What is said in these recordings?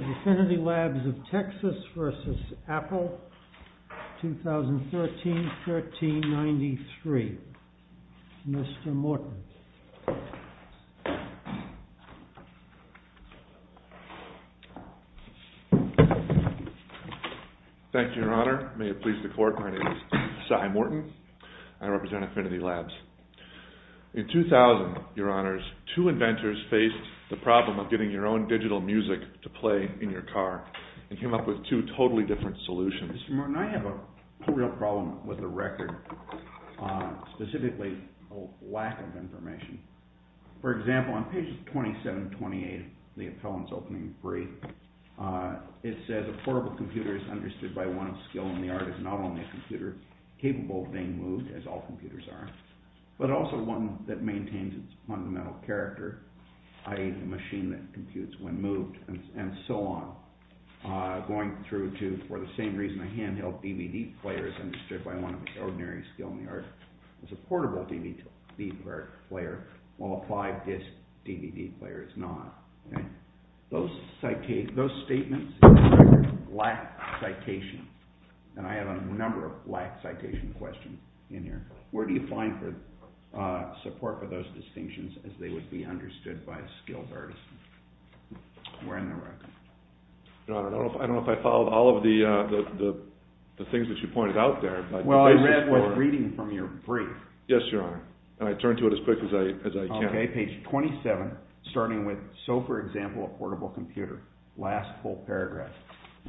Affinity Labs of Texas versus Apple, 2013-1393. Mr. Morton. Thank you, Your Honor. May it please the Court, my name is Cy Morton. I represent Affinity Labs. In 2000, Your Honors, two inventors faced the problem of getting your own digital music to play in your car and came up with two totally different solutions. Mr. Morton, I have a real problem with the record, specifically a lack of information. For example, on pages 27 and 28 of the appellant's opening brief, it says a portable computer is understood by one of skill in the art as not only a computer capable of being moved, as all computers are, but also one that maintains its fundamental character, i.e. a machine that computes when moved, and so on. Going through to, for the same reason I hand-held, DVD players understood by one of ordinary skill in the art as a portable DVD player, while a 5-disc DVD player is not. Those statements lack citation, and I have a number of lack citation questions in here. Where do you find support for those distinctions as they would be understood by a skilled artist? Where in the record? Your Honor, I don't know if I followed all of the things that you pointed out there. Well, I read one reading from your brief. Yes, Your Honor, and I turned to it as quick as I can. Okay, page 27, starting with, so for example, a portable computer, last full paragraph,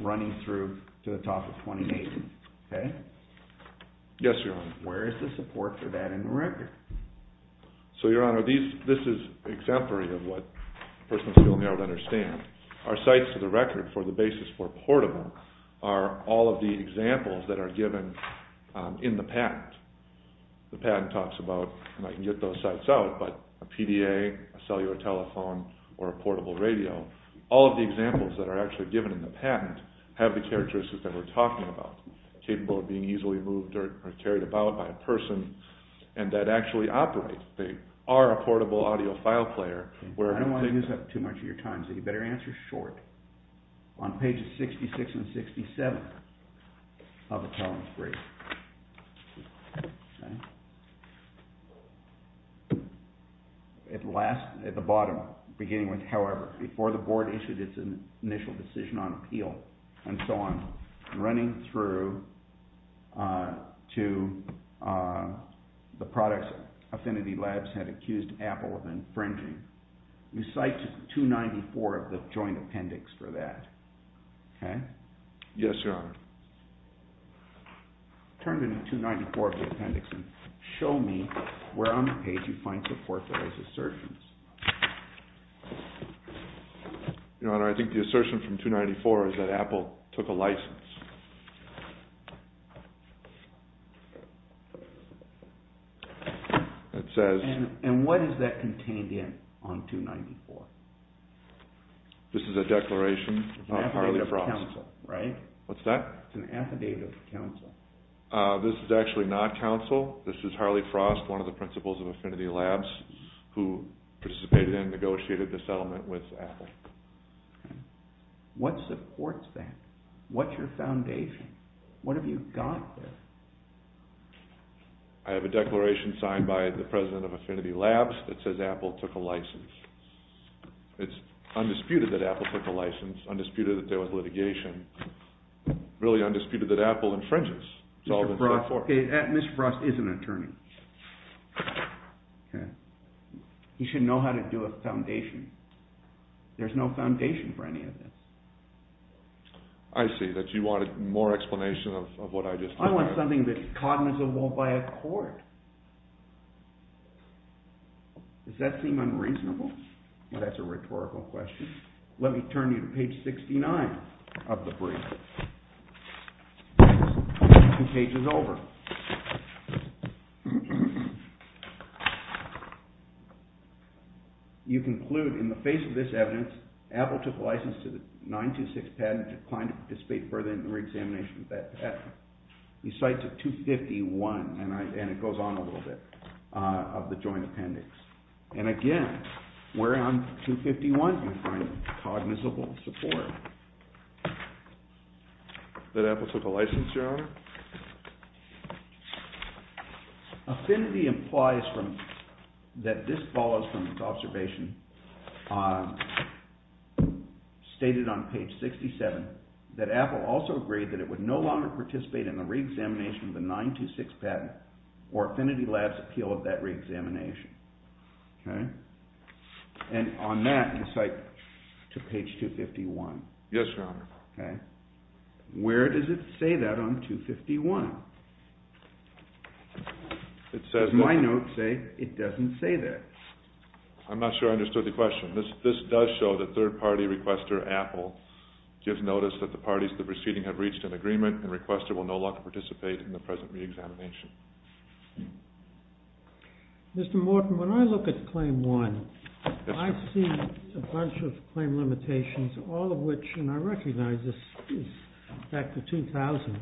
running through to the top of 28, okay? Yes, Your Honor. Where is the support for that in the record? So, Your Honor, this is exemplary of what a person of skill in the art would understand. Our sites to the record for the basis for portable are all of the examples that are given in the patent. The patent talks about, and I can get those sites out, but a PDA, a cellular telephone, or a portable radio, all of the examples that are actually given in the patent have the characteristics that we're talking about, capable of being easily moved or carried about by a person, and that actually operate. They are a portable audio file player. I don't want to use up too much of your time, so you better answer short. On pages 66 and 67 of the telemetry, okay? At the bottom, beginning with, however, before the board issued its initial decision on appeal, and so on, running through to the products Affinity Labs had accused Apple of infringing, you cite 294 of the joint appendix for that, okay? Yes, Your Honor. Turn to 294 of the appendix and show me where on the page you find support for those assertions. Your Honor, I think the assertion from 294 is that Apple took a license. It says... And what is that contained in on 294? This is a declaration of Harley Frost. It's an affidavit of counsel, right? What's that? It's an affidavit of counsel. This is actually not counsel. This is Harley Frost, one of the principals of Affinity Labs, who participated and negotiated the settlement with Apple. Okay. What supports that? What's your foundation? What have you got there? I have a declaration signed by the president of Affinity Labs that says Apple took a license. It's undisputed that Apple took a license, undisputed that there was litigation, really undisputed that Apple infringes. Mr. Frost is an attorney. He should know how to do a foundation. There's no foundation for any of this. I see that you wanted more explanation of what I just said. I want something that's cognizable by a court. Does that seem unreasonable? That's a rhetorical question. Let me turn you to page 69 of the brief. Page is over. You conclude, in the face of this evidence, Apple took a license to the 926 patent and declined to participate further in the re-examination of that patent. You cite to 251, and it goes on a little bit, of the joint appendix. And again, where on 251 do you find cognizable support? That Apple took a license, Your Honor? Affinity implies that this follows from its observation stated on page 67 that Apple also agreed that it would no longer participate in the re-examination of the 926 patent or Affinity Lab's appeal of that re-examination. And on that, you cite to page 251. Yes, Your Honor. Where does it say that on 251? Does my note say it doesn't say that? I'm not sure I understood the question. This does show that third-party requester Apple gives notice that the parties to the proceeding have reached an agreement and requester will no longer participate in the present re-examination. Mr. Morton, when I look at Claim 1, I see a bunch of claim limitations, all of which, and I recognize this is back to 2000,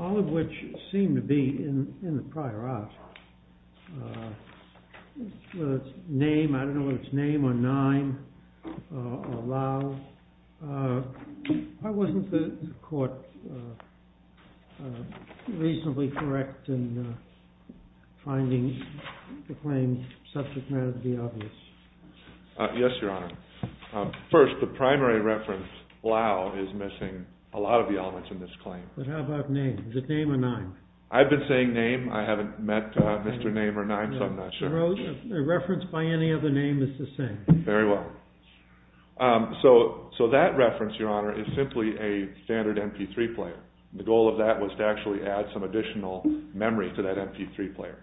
all of which seem to be in the prior art. Whether it's name, I don't know whether it's name, or nine, or loud. Why wasn't the court reasonably correct in finding the claimed subject matter to be obvious? Yes, Your Honor. First, the primary reference, loud, is missing a lot of the elements in this claim. But how about name? Is it name or nine? I've been saying name. I haven't met Mr. Name or nine, so I'm not sure. A reference by any other name is the same. Very well. So that reference, Your Honor, is simply a standard MP3 player. The goal of that was to actually add some additional memory to that MP3 player.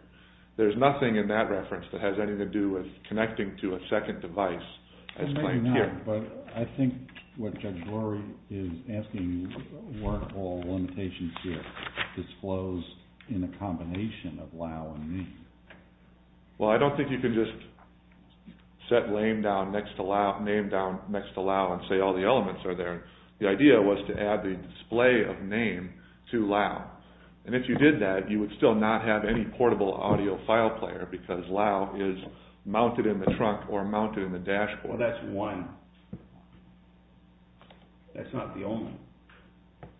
There's nothing in that reference that has anything to do with connecting to a second device as claimed here. Well, maybe not, but I think what Judge Lurie is asking, weren't all limitations here disclosed in a combination of loud and name? Well, I don't think you can just set name down next to loud and say all the elements are there. The idea was to add the display of name to loud. And if you did that, you would still not have any portable audio file player because loud is mounted in the trunk or mounted in the dashboard. Well, that's one. That's not the only one.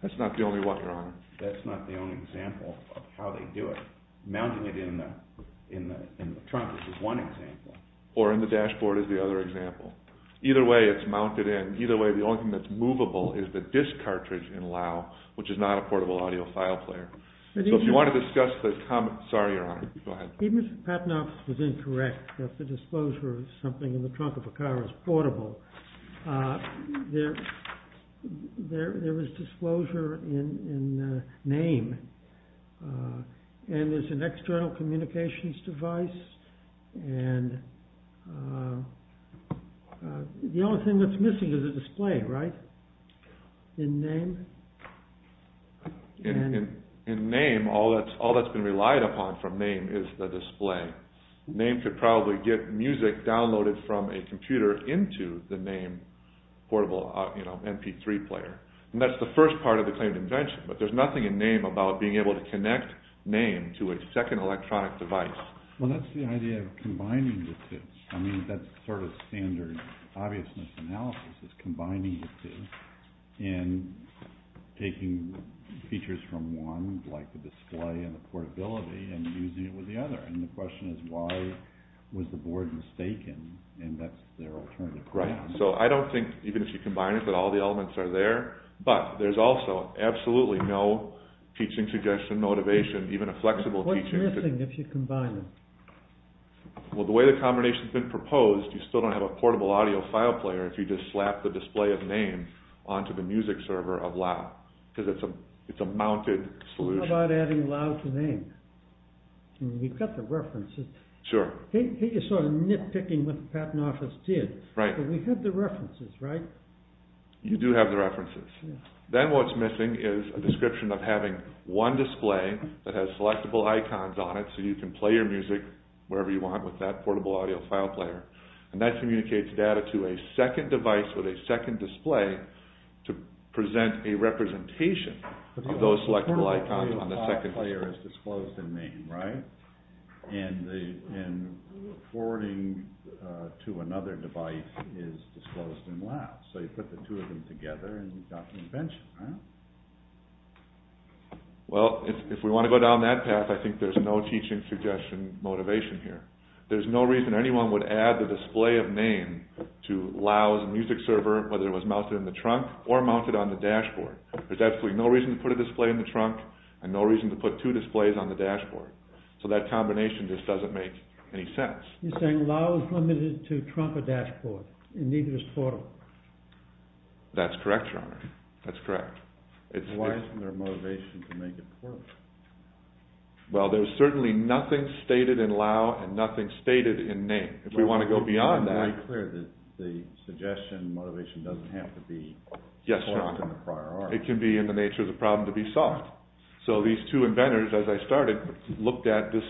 That's not the only one, Your Honor. That's not the only example of how they do it. Mounting it in the trunk is just one example. Or in the dashboard is the other example. Either way, it's mounted in. Either way, the only thing that's movable is the disc cartridge in loud, which is not a portable audio file player. So if you want to discuss the comment, sorry, Your Honor. Even if Patnoff was incorrect, that the disclosure of something in the trunk of a car is portable, there is disclosure in name. And there's an external communications device. And the only thing that's missing is a display, right, in name? In name, all that's been relied upon from name is the display. Name could probably get music downloaded from a computer into the name portable MP3 player. And that's the first part of the claimed invention. But there's nothing in name about being able to connect name to a second electronic device. Well, that's the idea of combining the two. I mean, that's sort of standard obviousness analysis, combining the two and taking features from one, like the display and the portability, and using it with the other. And the question is, why was the board mistaken? And that's their alternative. Right. So I don't think, even if you combine it, that all the elements are there. But there's also absolutely no teaching suggestion, motivation, even a flexible teaching. What's missing if you combine them? Well, the way the combination's been proposed, you still don't have a portable audio file player if you just slap the display of name onto the music server of loud, because it's a mounted solution. How about adding loud to name? I mean, we've got the references. Sure. I hate you sort of nitpicking what the patent office did. Right. But we have the references, right? You do have the references. Then what's missing is a description of having one display that has selectable icons on it, so you can play your music wherever you want with that portable audio file player. And that communicates data to a second device with a second display to present a representation of those selectable icons on the second display. The audio file player is disclosed in name, right? And forwarding to another device is disclosed in loud. So you put the two of them together and you've got the invention, right? Well, if we want to go down that path, I think there's no teaching suggestion motivation here. There's no reason anyone would add the display of name to loud music server, whether it was mounted in the trunk or mounted on the dashboard. There's absolutely no reason to put a display in the trunk and no reason to put two displays on the dashboard. So that combination just doesn't make any sense. You're saying loud is limited to trunk or dashboard and neither is portable. That's correct, Your Honor. That's correct. Why isn't there a motivation to make it portable? Well, there's certainly nothing stated in loud and nothing stated in name. If we want to go beyond that... Are you clear that the suggestion motivation doesn't have to be... Yes, Your Honor. ...solved in the prior art? It can be in the nature of the problem to be solved. So these two inventors, as I started, looked at this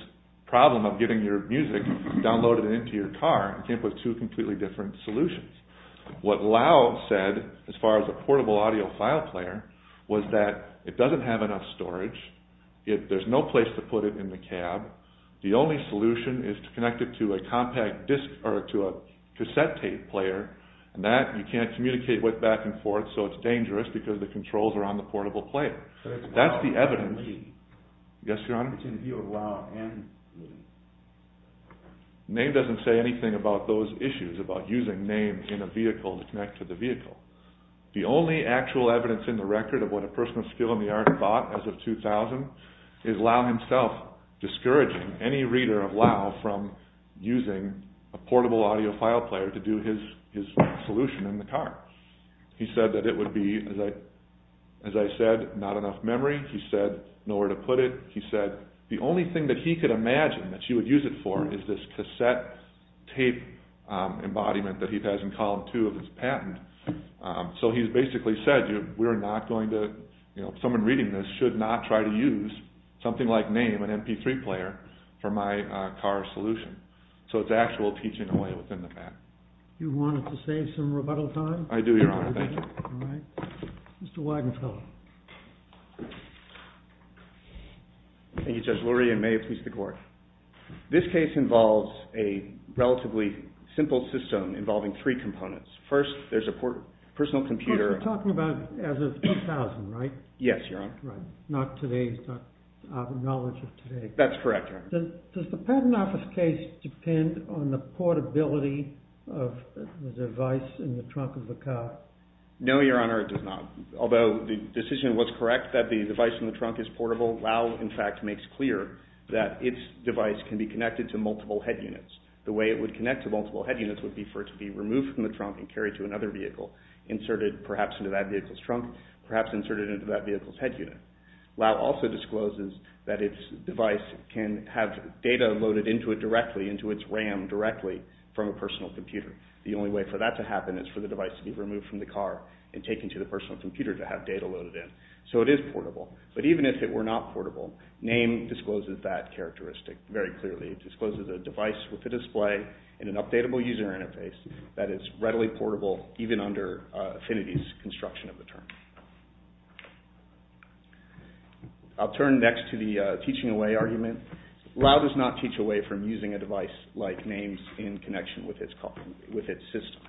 problem of getting your music downloaded and into your car and came up with two completely different solutions. What loud said, as far as a portable audio file player, was that it doesn't have enough storage, there's no place to put it in the cab, the only solution is to connect it to a cassette tape player, and that you can't communicate with back and forth, so it's dangerous because the controls are on the portable player. That's the evidence... But it's loud and neat. Yes, Your Honor. Between the view of loud and neat. Name doesn't say anything about those issues, about using name in a vehicle to connect to the vehicle. The only actual evidence in the record of what a person of skill in the art bought as of 2000 is loud himself discouraging any reader of loud from using a portable audio file player to do his solution in the car. He said that it would be, as I said, not enough memory. He said nowhere to put it. He said the only thing that he could imagine that you would use it for is this cassette tape embodiment that he has in column two of his patent. So he's basically said we're not going to... Someone reading this should not try to use something like name, an MP3 player, for my car solution. So it's actual teaching away within the patent. Do you want to save some rebuttal time? I do, Your Honor. Thank you. All right. Mr. Wagenfeld. Thank you, Judge Lurie, and may it please the Court. This case involves a relatively simple system involving three components. First, there's a personal computer. You're talking about as of 2000, right? Yes, Your Honor. Right. Not today's knowledge of today. That's correct, Your Honor. Does the patent office case depend on the portability of the device in the trunk of the car? No, Your Honor, it does not. Although the decision was correct that the device in the trunk is portable, Lau, in fact, makes clear that its device can be connected to multiple head units. The way it would connect to multiple head units would be for it to be removed from the trunk and carried to another vehicle, inserted perhaps into that vehicle's trunk, perhaps inserted into that vehicle's head unit. Lau also discloses that its device can have data loaded into it directly, into its RAM directly from a personal computer. The only way for that to happen is for the device to be removed from the car and taken to the personal computer to have data loaded in. So it is portable. But even if it were not portable, Name discloses that characteristic very clearly. It discloses a device with a display and an updatable user interface that is readily portable even under Affinity's construction of the term. I'll turn next to the teaching away argument. Lau does not teach away from using a device like Name's in connection with its system.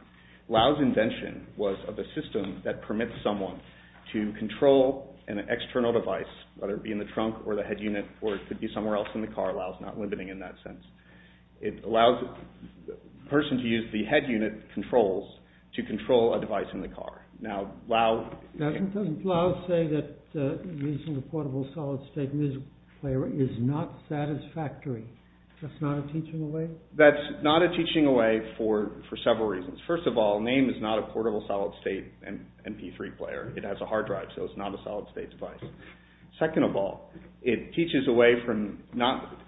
Lau's invention was of a system that permits someone to control an external device, whether it be in the trunk or the head unit, or it could be somewhere else in the car. Lau's not limiting in that sense. It allows a person to use the head unit controls to control a device in the car. Now, Lau... Doesn't Lau say that using a portable solid state music player is not satisfactory? That's not a teaching away? That's not a teaching away for several reasons. First of all, Name is not a portable solid state MP3 player. It has a hard drive, so it's not a solid state device. Second of all, it teaches away from...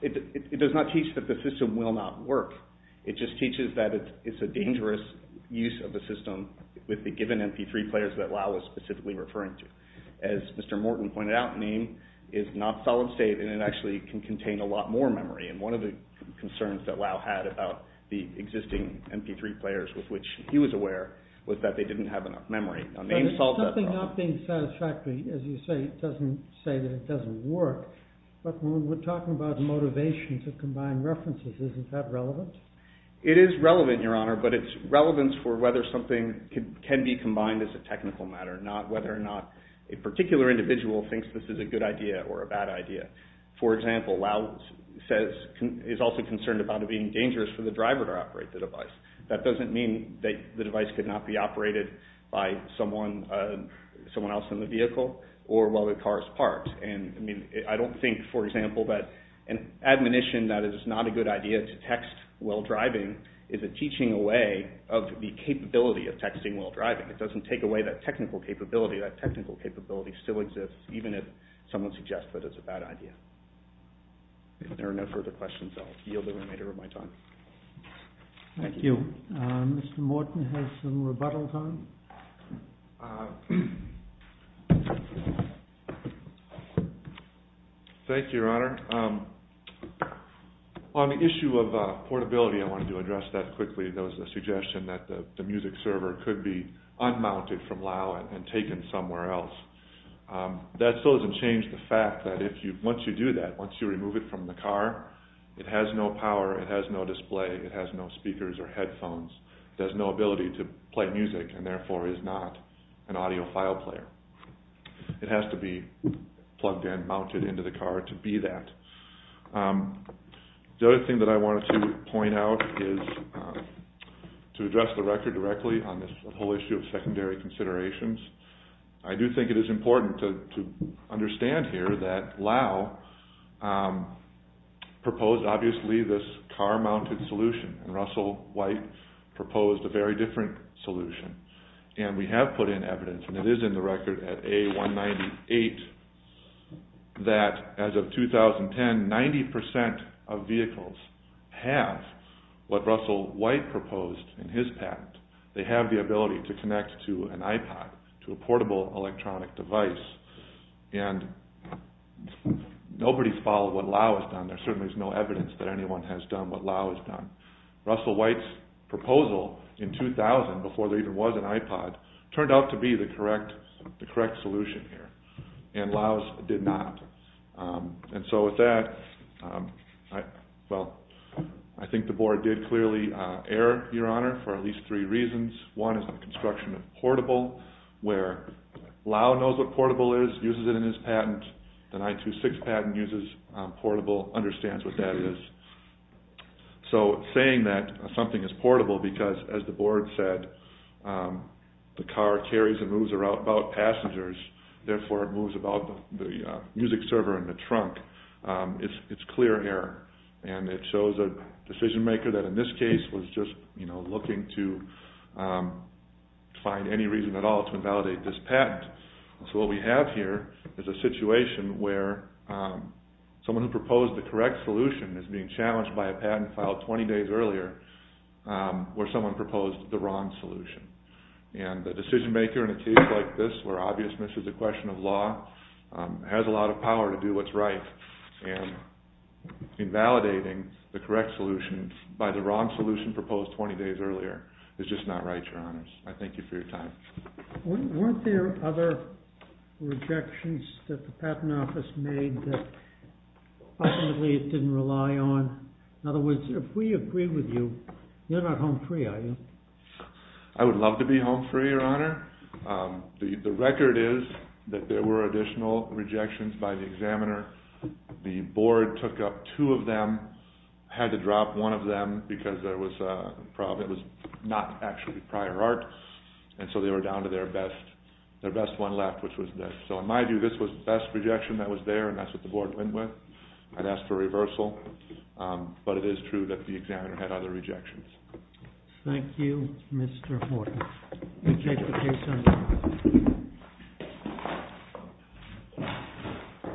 It does not teach that the system will not work. It just teaches that it's a dangerous use of the system with the given MP3 players that Lau was specifically referring to. As Mr. Morton pointed out, Name is not solid state and it actually can contain a lot more memory. And one of the concerns that Lau had about the existing MP3 players with which he was aware was that they didn't have enough memory. Now, Name solved that problem. Not being satisfactory, as you say, doesn't say that it doesn't work. But when we're talking about motivations of combined references, isn't that relevant? It is relevant, Your Honor, but it's relevance for whether something can be combined as a technical matter, not whether or not a particular individual thinks this is a good idea or a bad idea. For example, Lau is also concerned about it being dangerous for the driver to operate the device. That doesn't mean that the device could not be operated by someone else in the vehicle or while the car is parked. I don't think, for example, that an admonition that it is not a good idea to text while driving is a teaching away of the capability of texting while driving. It doesn't take away that technical capability. That technical capability still exists, even if someone suggests that it's a bad idea. If there are no further questions, I'll yield the remainder of my time. Thank you. Mr. Morton has some rebuttals on. Thank you, Your Honor. On the issue of portability, I wanted to address that quickly. There was a suggestion that the music server could be unmounted from Lau and taken somewhere else. That still doesn't change the fact that once you do that, once you remove it from the car, it has no power, it has no display, it has no speakers or headphones. It has no ability to play music and, therefore, is not an audiophile player. It has to be plugged in, mounted into the car to be that. The other thing that I wanted to point out is to address the record directly on this whole issue of secondary considerations. I do think it is important to understand here that Lau proposed obviously this car-mounted solution and Russell White proposed a very different solution. And we have put in evidence, and it is in the record at A198, that as of 2010, 90% of vehicles have what Russell White proposed in his patent. They have the ability to connect to an iPod, to a portable electronic device. And nobody has followed what Lau has done. There certainly is no evidence that anyone has done what Lau has done. Russell White's proposal in 2000, before there even was an iPod, turned out to be the correct solution here. And Lau's did not. And so with that, I think the board did clearly err, Your Honor, for at least three reasons. One is the construction of portable, where Lau knows what portable is, uses it in his patent. The 926 patent uses portable, understands what that is. So saying that something is portable because, as the board said, the car carries and moves about passengers, therefore it moves about the music server in the trunk, it is clear error. And it shows a decision maker that in this case was just looking to find any reason at all to invalidate this patent. So what we have here is a situation where someone who proposed the correct solution is being challenged by a patent filed 20 days earlier where someone proposed the wrong solution. And the decision maker in a case like this where obviousness is a question of law has a lot of power to do what is right. And invalidating the correct solution by the wrong solution proposed 20 days earlier is just not right, Your Honors. I thank you for your time. Weren't there other rejections that the Patent Office made that ultimately it didn't rely on? In other words, if we agree with you, you're not home free, are you? I would love to be home free, Your Honor. The record is that there were additional rejections by the examiner. The board took up two of them, had to drop one of them because it was not actually prior art, and so they were down to their best one left, which was this. So in my view, this was the best rejection that was there and that's what the board went with. I'd ask for reversal, but it is true that the examiner had other rejections. Thank you, Mr. Horton. You may take the case, sir.